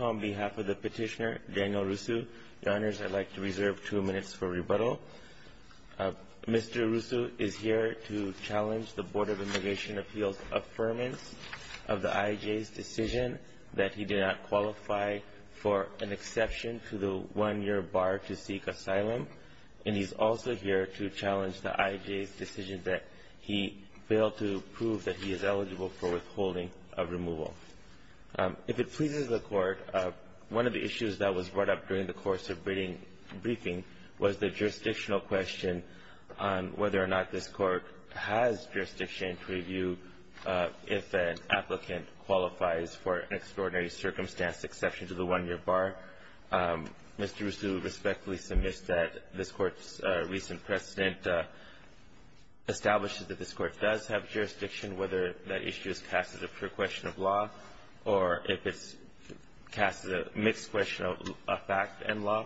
on behalf of the petitioner, Daniel Rusu, I'd like to reserve two minutes for rebuttal. Mr. Rusu is here to challenge the Board of Immigration Appeals' affirmance of the IAJ's decision that he did not qualify for an exception to the one-year bar to seek asylum, and he's also here to challenge the IAJ's decision that he failed to prove that he is eligible for withholding of removal. If it pleases the Court, one of the issues that was brought up during the course of briefing was the jurisdictional question on whether or not this Court has jurisdiction to review if an applicant qualifies for an extraordinary circumstance exception to the one-year bar. Mr. Rusu respectfully submits that this Court's recent precedent establishes that this Court does have jurisdiction whether that issue is cast as a pure question of law or if it's cast as a mixed question of fact and law.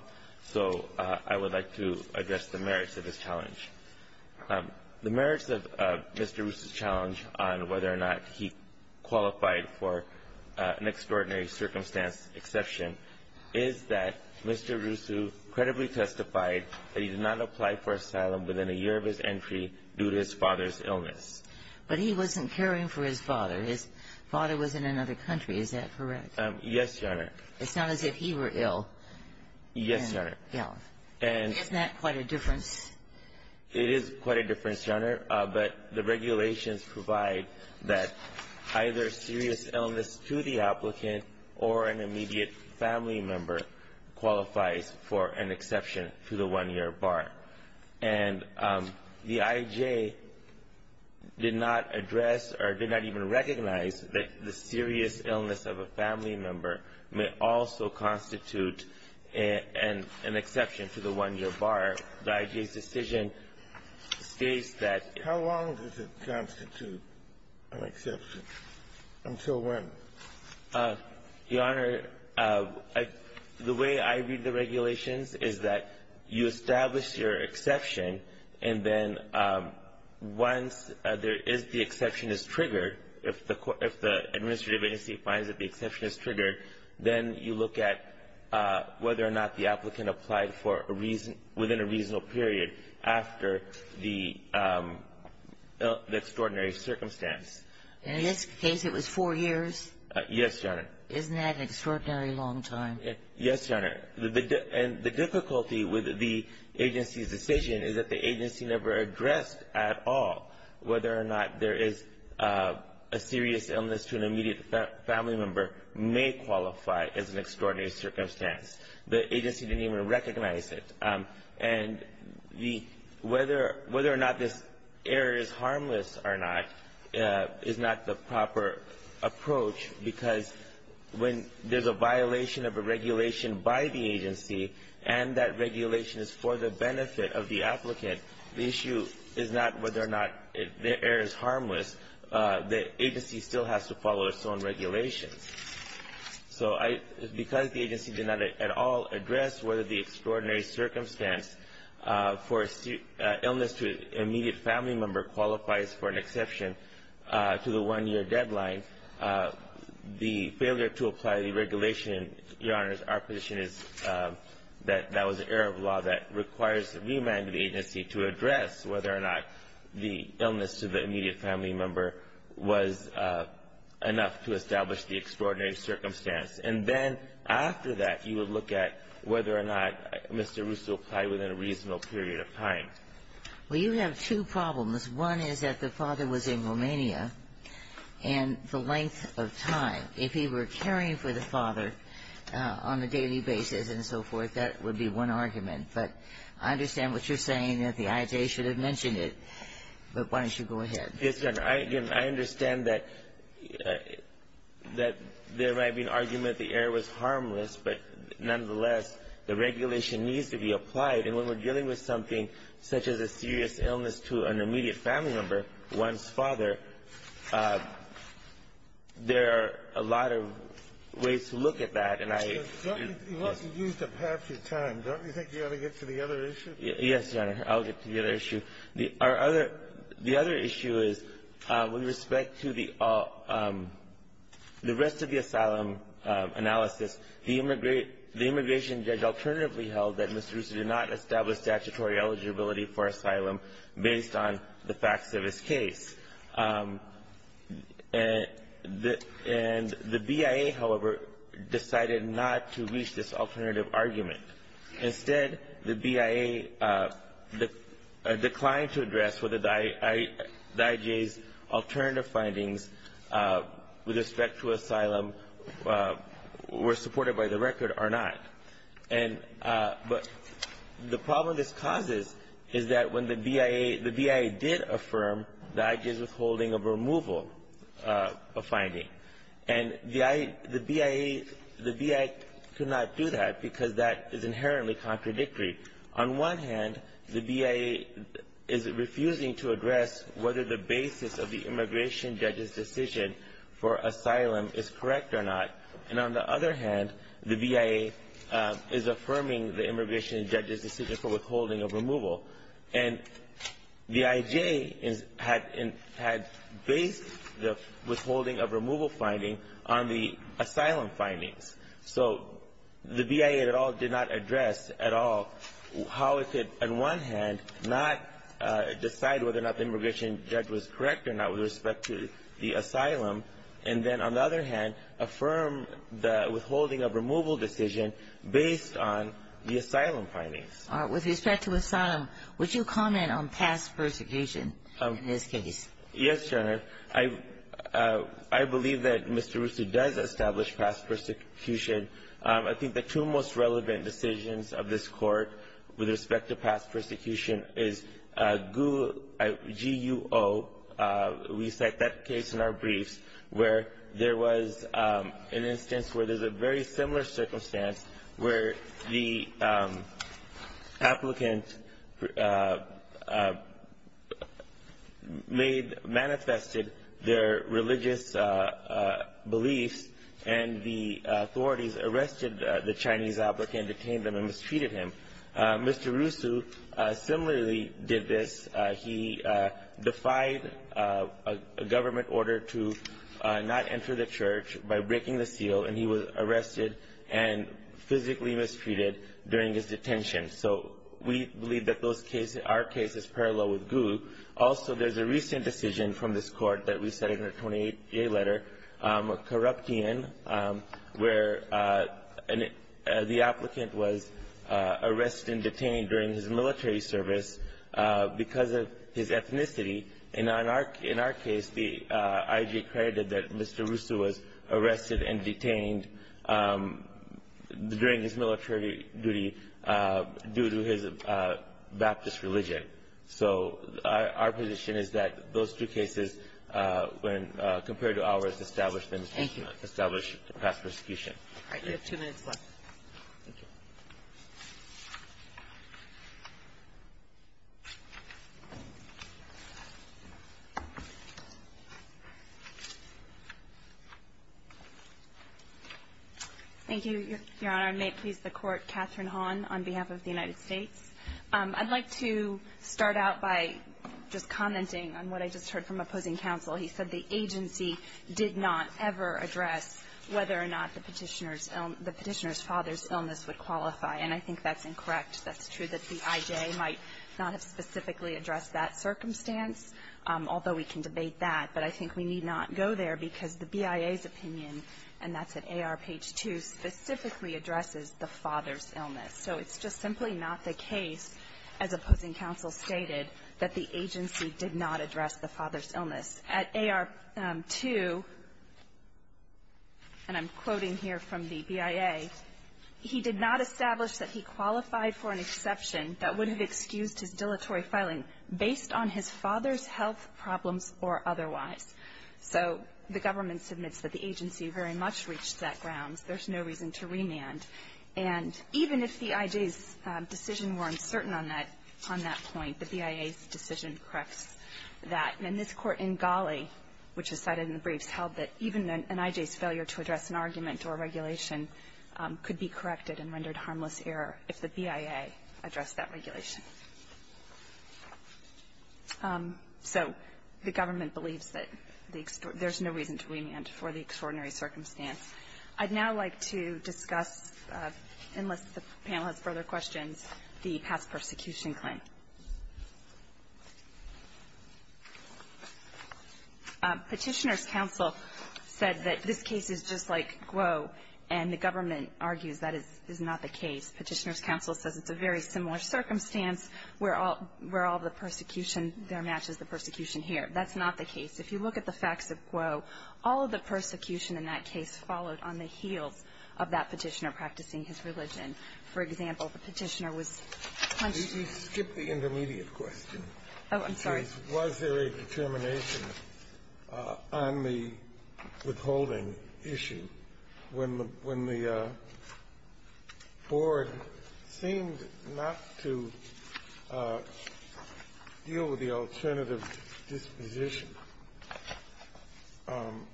So I would like to address the merits of this challenge. The merits of Mr. Rusu's challenge on whether or not he qualified for an extraordinary circumstance exception is that Mr. Rusu credibly testified that he did not apply for asylum within a year of his father's illness. But he wasn't caring for his father. His father was in another country. Is that correct? Yes, Your Honor. It's not as if he were ill. Yes, Your Honor. Yeah. And isn't that quite a difference? It is quite a difference, Your Honor, but the regulations provide that either serious illness to the applicant or an immediate family member qualifies for an exception to the one-year bar. And the I.J. did not address or did not even recognize that the serious illness of a family member may also constitute an exception to the one-year bar. The I.J.'s decision states that — How long does it constitute an exception? Until when? Your Honor, the way I read the regulations is that you establish your exception, and then once there is the exception is triggered, if the administrative agency finds that the exception is triggered, then you look at whether or not the applicant applied for a reason — within a reasonable period after the extraordinary circumstance. In this case, it was four years? Yes, Your Honor. Isn't that an extraordinary long time? Yes, Your Honor. And the difficulty with the agency's decision is that the agency never addressed at all whether or not there is a serious illness to an immediate family member may qualify as an extraordinary circumstance. The agency didn't even recognize it. And the — whether or not this error is harmless or not is not the proper approach, because when there's a violation of a regulation by the agency and that regulation is for the benefit of the applicant, the issue is not whether or not the error is harmless. The agency still has to follow its own regulations. So I — because the agency did not at all address whether the extraordinary circumstance for illness to an immediate family member qualifies for an exception to the one-year deadline, the failure to apply the regulation, Your Honors, our position is that that was an error of law that requires the remand of the agency to address whether or not the illness to the immediate family member was enough to establish the extraordinary circumstance. And then after that, you would look at whether or not Mr. Russo applied within a reasonable period of time. Well, you have two problems. One is that the father was in Romania, and the length of time. If he were caring for the father on a daily basis and so forth, that would be one argument. But I understand what you're saying, that the IJ should have mentioned it. But why don't you go ahead? Yes, Your Honor. I understand that there might be an argument that the error was harmless, but nonetheless, the regulation needs to be applied. And when we're dealing with something such as a serious illness to an immediate family member, one's father, there are a lot of ways to look at that. And I — But, Your Honor, you only used up half your time. Don't you think you ought to get to the other issue? Yes, Your Honor. I'll get to the other issue. Our other — the other issue is, with respect to the rest of the asylum analysis, the immigration judge alternatively held that Mr. Russo did not establish statutory eligibility for asylum based on the facts of his case. And the BIA, however, decided not to reach this alternative argument. Instead, the BIA declined to address whether the IJ's alternative findings with respect to asylum were supported by the record or not. And — but the problem this causes is that when the BIA — the BIA did affirm the IJ's withholding of removal of finding. And the BIA — the BIA could not do that because that is inherently contradictory. On one hand, the BIA is refusing to address whether the basis of the immigration judge's decision for asylum is correct or not. And on the other hand, the BIA is affirming the immigration judge's decision for withholding of removal. And the IJ is — had — had based the withholding of removal finding on the asylum findings. So the BIA at all did not address at all how it could, on one hand, not decide whether or not the immigration judge was correct or not with respect to the asylum, and then, on the other hand, affirm the withholding of removal decision based on the asylum findings. With respect to asylum, would you comment on past persecution in this case? Yes, Your Honor. I — I believe that Mr. Russo does establish past persecution. I think the two most relevant decisions of this Court with respect to past persecution is GUO — we cite that case in our briefs, where there was an instance where there's a very similar circumstance where the applicant made — manifested their religious beliefs, and the authorities arrested the Chinese applicant, detained him, and mistreated him. Mr. Russo similarly did this. He defied a government order to not enter the church by breaking the seal, and he was arrested and physically mistreated during his detention. So we believe that those cases — our case is parallel with GUO. Also, there's a recent decision from this Court that we cite in our 28-J letter, a corruption, where the applicant was arrested and detained during his military service because of his ethnicity. In our — in our case, the IG credited that Mr. Russo was arrested and detained during his military duty due to his Baptist religion. So our position is that those two cases, when compared to ours, establish past persecution. Thank you. All right. We have two minutes left. Thank you. Thank you, Your Honor. And may it please the Court, Katherine Hahn on behalf of the United States. I'd like to start out by just commenting on what I just heard from opposing counsel. He said the agency did not ever address whether or not the Petitioner's illness — the Petitioner's father's illness would qualify. And I think that's incorrect. That's true that the IJ might not have specifically addressed that circumstance, although we can debate that. But I think we need not go there because the BIA's opinion, and that's at AR page 2, specifically addresses the father's illness. So it's just simply not the case, as opposing counsel stated, that the agency did not address the father's illness. At AR 2, and I'm quoting here from the BIA, he did not establish that he qualified for an exception that would have excused his dilatory filing based on his father's health problems or otherwise. So the government submits that the agency very much reached that grounds. There's no reason to remand. And even if the IJ's decision were uncertain on that — on that point, the BIA's decision corrects that. And this Court in Ghali, which is cited in the briefs, held that even an IJ's failure to address an argument or regulation could be corrected and rendered harmless error if the BIA addressed that regulation. So the government believes that the — there's no reason to remand for the extraordinary circumstance. I'd now like to discuss, unless the panel has further questions, the past persecution claim. Petitioner's counsel said that this case is just like Guo, and the government argues that is not the case. Petitioner's counsel says it's a very similar circumstance where all the persecution there matches the persecution here. That's not the case. If you look at the facts of Guo, all of the persecution in that case followed on the heels of that Petitioner practicing his religion. For example, the Petitioner was punched — Kennedy, you skipped the intermediate question. Oh, I'm sorry. Was there a determination on the withholding issue when the — when the board seemed not to deal with the alternative disposition, and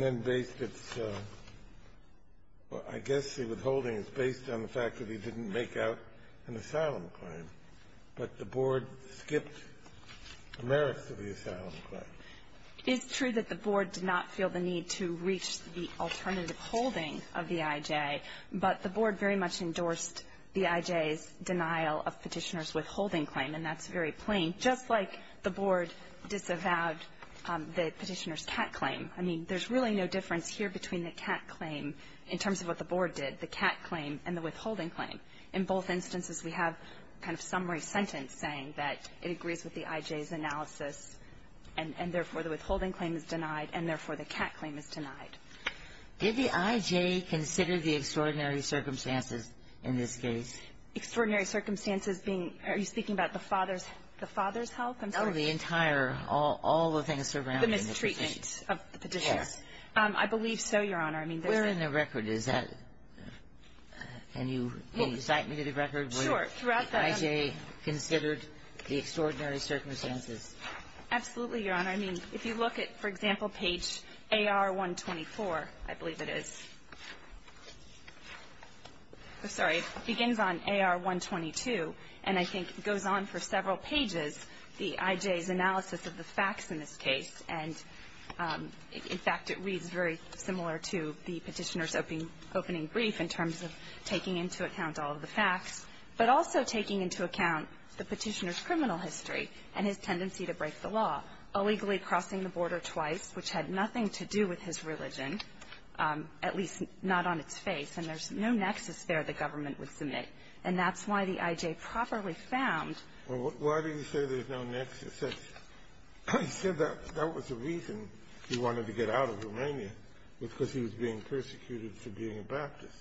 then based its — I guess the withholding is based on the fact that he didn't make out an asylum claim, but the board skipped the merits of the asylum claim. It's true that the board did not feel the need to reach the alternative holding of the I.J., but the board very much endorsed the I.J.'s denial of Petitioner's withholding claim, and that's very plain, just like the board disavowed the Petitioner's cat claim. I mean, there's really no difference here between the cat claim in terms of what the board did, the cat claim, and the withholding claim. In both instances, we have a kind of summary sentence saying that it agrees with the I.J.'s analysis, and therefore, the withholding claim is denied, and therefore, the cat claim is denied. Did the I.J. consider the extraordinary circumstances in this case? Extraordinary circumstances being — are you speaking about the father's — the father's health? I'm sorry. No, the entire — all the things surrounding the Petitioner. The mistreatment of the Petitioner. Yes. I believe so, Your Honor. I mean, there's a — Where in the record is that? Can you — can you cite me to the record where the I.J. considered the extraordinary circumstances? Absolutely, Your Honor. I mean, if you look at, for example, page AR-124, I believe it is. I'm sorry. It begins on AR-122, and I think goes on for several pages, the I.J.'s analysis of the facts in this case. And, in fact, it reads very similar to the Petitioner's opening brief in terms of taking into account all of the facts, but also taking into account the Petitioner's tendency to break the law, illegally crossing the border twice, which had nothing to do with his religion, at least not on its face, and there's no nexus there the government would submit. And that's why the I.J. properly found — Well, why do you say there's no nexus? He said that was the reason he wanted to get out of Romania, because he was being persecuted for being a Baptist.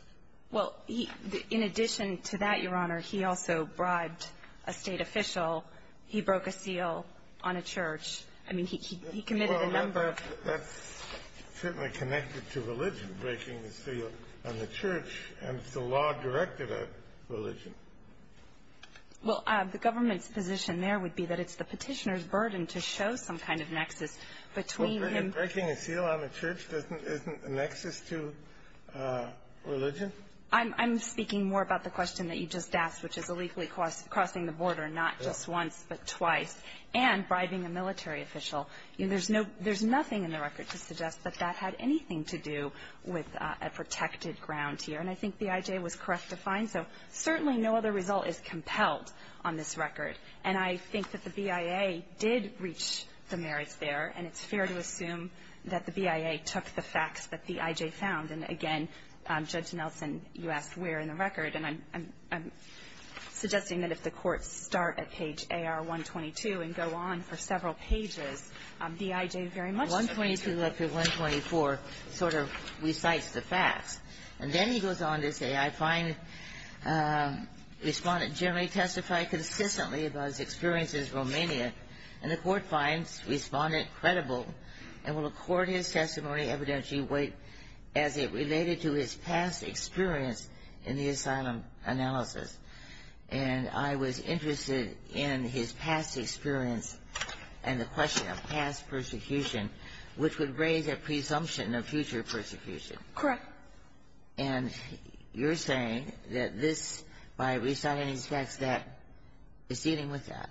Well, in addition to that, Your Honor, he also bribed a state official. He broke a seal on a church. I mean, he committed a number of — Well, that's certainly connected to religion, breaking the seal on the church, and it's the law directed at religion. Well, the government's position there would be that it's the Petitioner's burden to show some kind of nexus between him — Well, breaking a seal on a church isn't a nexus to religion? I'm speaking more about the question that you just asked, which is illegally crossing the border, not just once, but twice, and bribing a military official. There's no — there's nothing in the record to suggest that that had anything to do with a protected ground here. And I think the I.J. was correct to find so. Certainly no other result is compelled on this record. And I think that the BIA did reach the merits there, and it's fair to assume that the BIA took the facts that the I.J. found. And, again, Judge Nelson, you asked where in the record. And I'm suggesting that if the courts start at page AR-122 and go on for several pages, the I.J. very much — AR-122 up to AR-124 sort of recites the facts. And then he goes on to say, I find the Respondent generally testified consistently about his experiences in Romania, and the Court finds Respondent credible and will accord his testimony evidentially weight as it related to his past experience in the asylum analysis. And I was interested in his past experience and the question of past persecution, which would raise a presumption of future persecution. Correct. And you're saying that this, by reciting these facts, that is dealing with that.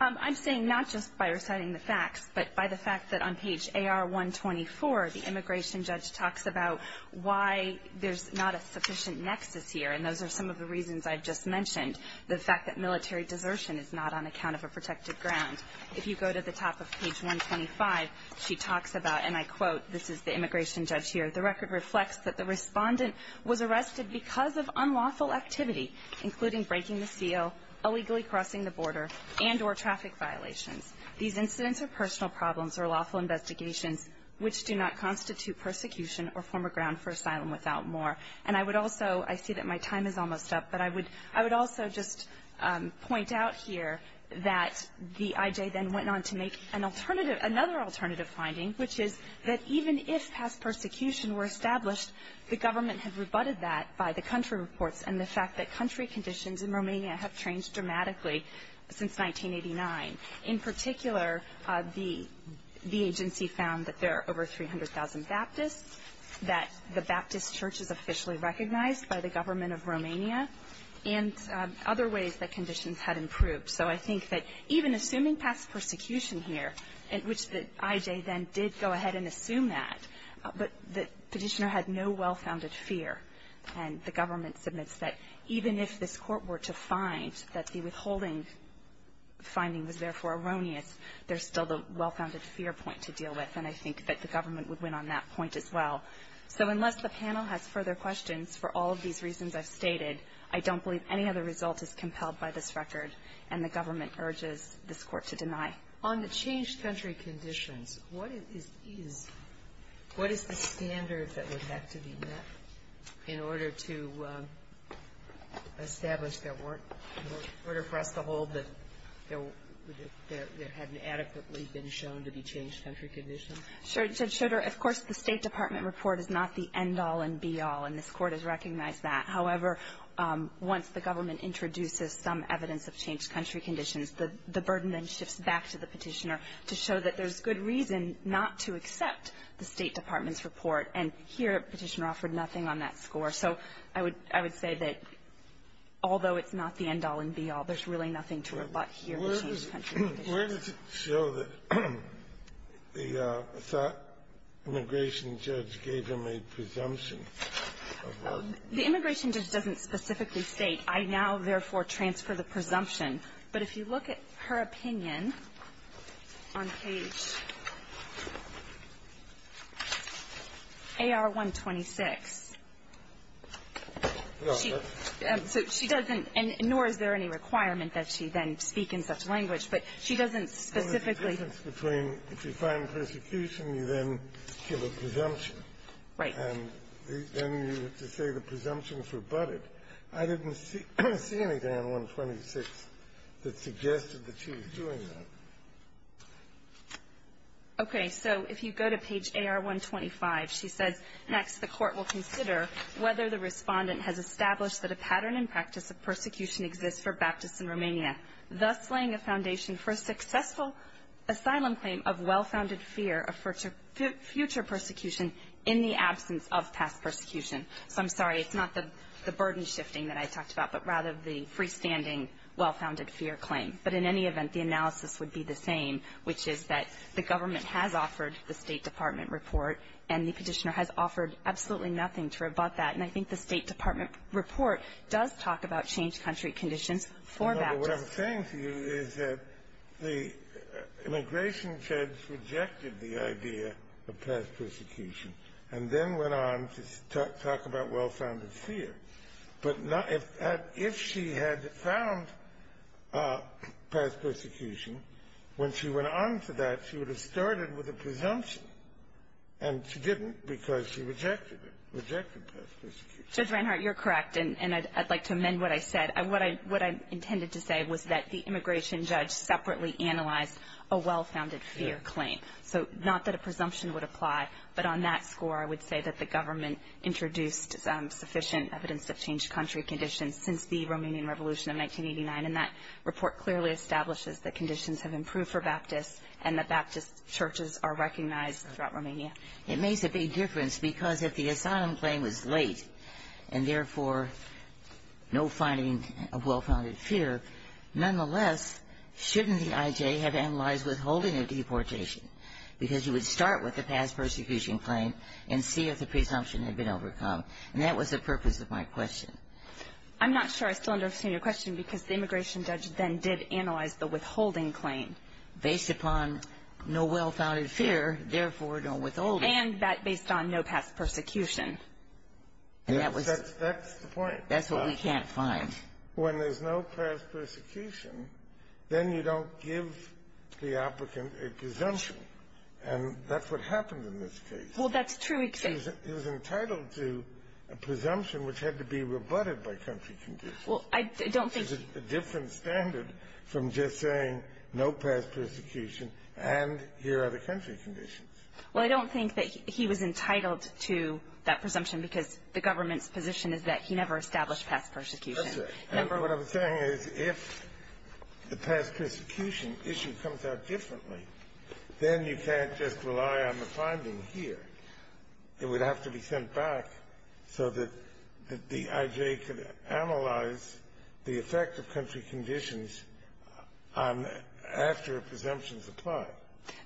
I'm saying not just by reciting the facts, but by the fact that on page AR-124, the Immigration Judge talks about why there's not a sufficient nexus here. And those are some of the reasons I've just mentioned. The fact that military desertion is not on account of a protected ground. If you go to the top of page 125, she talks about, and I quote — this is the Immigration Judge here — the record reflects that the Respondent was arrested because of unlawful activity, including breaking the seal, illegally crossing the border, and or traffic violations. These incidents are personal problems or lawful investigations which do not constitute persecution or form a ground for asylum without more. And I would also — I see that my time is almost up, but I would — I would also just point out here that the IJ then went on to make an alternative — another alternative finding, which is that even if past persecution were established, the government had rebutted that by the country reports and the fact that country conditions in Romania have changed dramatically since 1989. In particular, the agency found that there are over 300,000 Baptists, that the Baptist church is officially recognized by the government of Romania, and other ways that conditions had improved. So I think that even assuming past persecution here, which the IJ then did go ahead and assume that, but the Petitioner had no well-founded fear. And the government submits that even if this court were to find that the withholding finding was therefore erroneous, there's still the well-founded fear point to deal with. And I think that the government would win on that point as well. So unless the panel has further questions for all of these reasons I've stated, I don't believe any other result is compelled by this record, and the government urges this Court to deny. On the changed country conditions, what is — what is the standard that would have to be met in order to establish there weren't — in order for us to hold that there hadn't adequately been shown to be changed country conditions? Sure. Judge Schroeder, of course, the State Department report is not the end-all and be-all, and this Court has recognized that. However, once the government introduces some evidence of changed country conditions, the burden then shifts back to the Petitioner to show that there's good reason not to accept the State Department's report. And here, Petitioner offered nothing on that score. So I would — I would say that although it's not the end-all and be-all, there's really nothing to rebut here in the changed country conditions. Where does it show that the immigration judge gave him a presumption of — The immigration judge doesn't specifically state, I now therefore transfer the presumption. But if you look at her opinion on page AR-126, she — so she doesn't — and nor is there any requirement that she then speak in such language. But she doesn't specifically — Well, there's a difference between if you find persecution, you then give a presumption. Right. And then you have to say the presumption is rebutted. I didn't see anything on AR-126 that suggested that she was doing that. Okay. So if you go to page AR-125, she says, Next, the Court will consider whether the Respondent has established that a pattern in practice of persecution exists for Baptists in Romania, thus laying a foundation for a successful asylum claim of well-founded fear of future persecution in the absence of past persecution. So I'm sorry. It's not the burden-shifting that I talked about, but rather the freestanding well-founded fear claim. But in any event, the analysis would be the same, which is that the government has offered the State Department report, and the Petitioner has offered absolutely nothing to rebut that. And I think the State Department report does talk about changed country conditions for Baptists. No, but what I'm saying to you is that the immigration judge rejected the idea of past persecution, and then went on to talk about well-founded fear. But if she had found past persecution, when she went on to that, she would have started with a presumption. And she didn't because she rejected it, rejected past persecution. Judge Reinhart, you're correct, and I'd like to amend what I said. What I intended to say was that the immigration judge separately analyzed a well-founded fear claim. So not that a presumption would apply, but on that score, I would say that the government introduced sufficient evidence of changed country conditions since the Romanian Revolution of 1989. And that report clearly establishes that conditions have improved for Baptists, and that Baptist churches are recognized throughout Romania. It makes a big difference because if the asylum claim was late, and therefore no finding of well-founded fear, nonetheless, shouldn't the IJ have analyzed withholding of deportation? Because you would start with the past persecution claim and see if the presumption had been overcome. And that was the purpose of my question. I'm not sure I still understand your question because the immigration judge then did analyze the withholding claim. Based upon no well-founded fear, therefore no withholding. And that based on no past persecution. And that was... That's the point. That's what we can't find. When there's no past persecution, then you don't give the applicant a presumption. And that's what happened in this case. Well, that's true, except... He was entitled to a presumption which had to be rebutted by country conditions. Well, I don't think... It's a different standard from just saying no past persecution and here are the country conditions. Well, I don't think that he was entitled to that presumption because the government's position is that he never established past persecution. That's right. And what I'm saying is if the past persecution issue comes out differently, then you can't just rely on the finding here. It would have to be sent back so that the I.J. could analyze the effect of country conditions after a presumption is applied.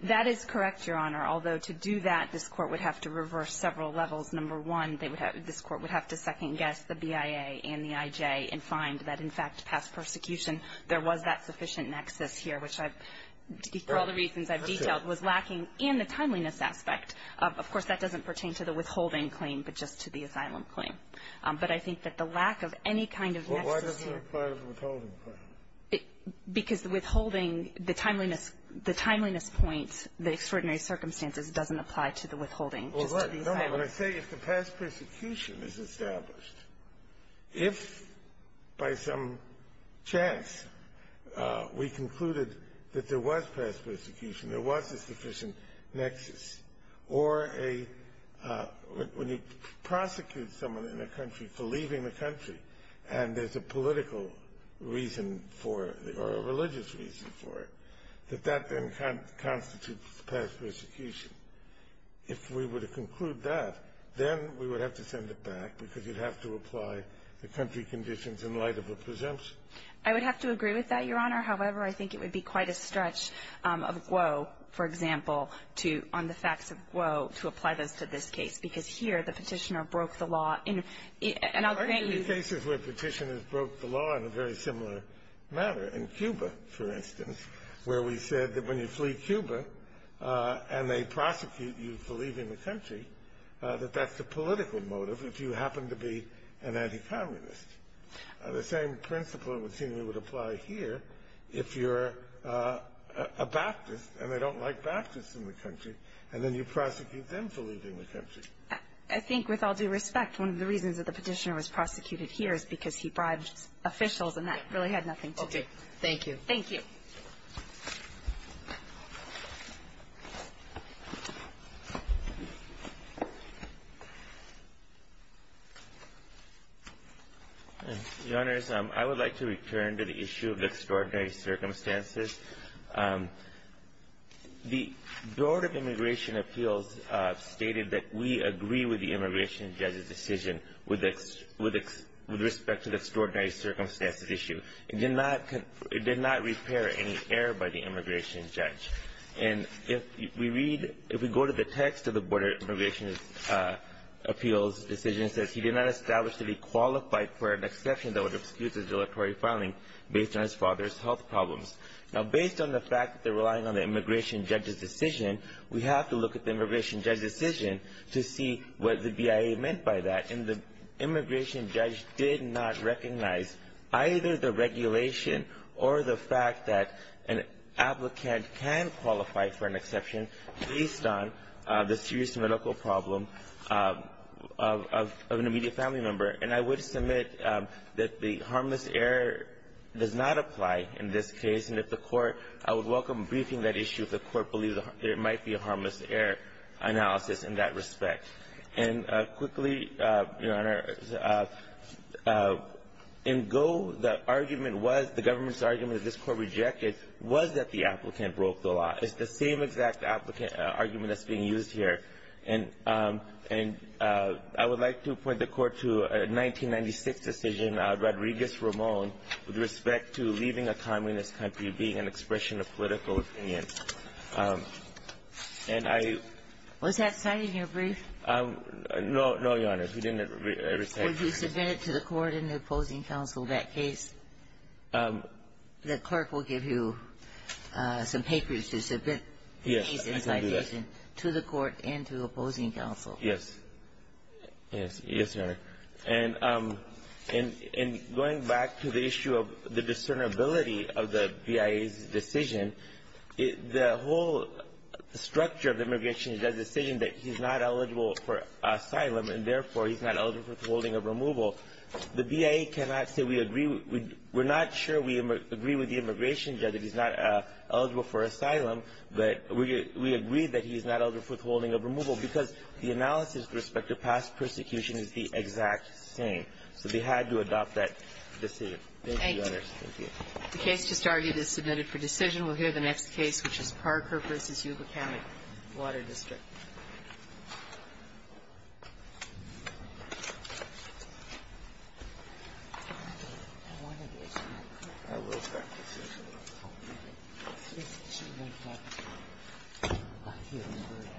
That is correct, Your Honor, although to do that, this Court would have to reverse several levels. Number one, this Court would have to second-guess the BIA and the I.J. and find that, in fact, past persecution, there was that sufficient nexus here, which for all the reasons I've detailed was lacking in the timeliness aspect. Of course, that doesn't pertain to the withholding claim, but just to the asylum claim. But I think that the lack of any kind of nexus here... Well, why doesn't it apply to the withholding claim? Because the withholding, the timeliness point, the extraordinary circumstances doesn't apply to the withholding, just to the asylum claim. No, no. When I say if the past persecution is established, if by some chance we concluded that there was past persecution, there was a sufficient nexus, or when you prosecute someone in a country for leaving the country and there's a political reason for it or a religious reason for it, that that then constitutes past persecution. If we were to conclude that, then we would have to send it back because you'd have to apply the country conditions in light of a presumption. I would have to agree with that, Your Honor. However, I think it would be quite a stretch of Guo, for example, to, on the facts of Guo, to apply this to this case, because here the Petitioner broke the law. And I'll grant you... There are cases where Petitioners broke the law in a very similar manner. In Cuba, for instance, where we said that when you flee Cuba and they prosecute you for leaving the country, that that's a political motive if you happen to be an anti-communist. The same principle, it would seem, would apply here if you're a Baptist and they don't like Baptists in the country, and then you prosecute them for leaving the country. I think, with all due respect, one of the reasons that the Petitioner was prosecuted here is because he bribed officials, and that really had nothing to do with it. Thank you. Thank you. Your Honors, I would like to return to the issue of the extraordinary circumstances. The Board of Immigration Appeals stated that we agree with the immigration judge's decision with respect to the extraordinary circumstances issue. It did not repair any error by the immigration judge. And if we read, if we go to the text of the Board of Immigration Appeals decision, it says, he did not establish that he qualified for an exception that would excuse his deletory filing based on his father's health problems. Now, based on the fact that they're relying on the immigration judge's decision, we have to look at the immigration judge's decision to see what the BIA meant by that. And the immigration judge did not recognize either the regulation or the fact that an applicant can qualify for an exception based on the serious medical problem of an immediate family member. And I would submit that the harmless error does not apply in this case. And if the court, I would welcome briefing that issue if the court believes there might be a harmless error analysis in that respect. And quickly, Your Honor, in Go, the argument was, the government's argument that this Court rejected was that the applicant broke the law. It's the same exact applicant argument that's being used here. And I would like to point the Court to a 1996 decision, Rodriguez-Ramon, with respect to leaving a communist country, being an expression of political opinion. And I — Was that cited in your brief? No, no, Your Honor. We didn't ever cite it. Were you submitted to the court and the opposing counsel that case? The clerk will give you some papers to submit the case and citation to the court and to the opposing counsel. Yes. Yes, Your Honor. And going back to the issue of the discernibility of the BIA's decision, the whole structure of the immigration judge's decision that he's not eligible for asylum and, therefore, he's not eligible for withholding of removal, the BIA cannot say we agree with — we're not sure we agree with the immigration judge that he's not eligible for asylum, but we agree that he's not eligible for withholding of removal because the analysis with respect to past persecution is the exact same. So they had to adopt that decision. Thank you, Your Honor. Thank you. The case just argued is submitted for decision. We'll hear the next case, which is Parker v. Yuba County Water District.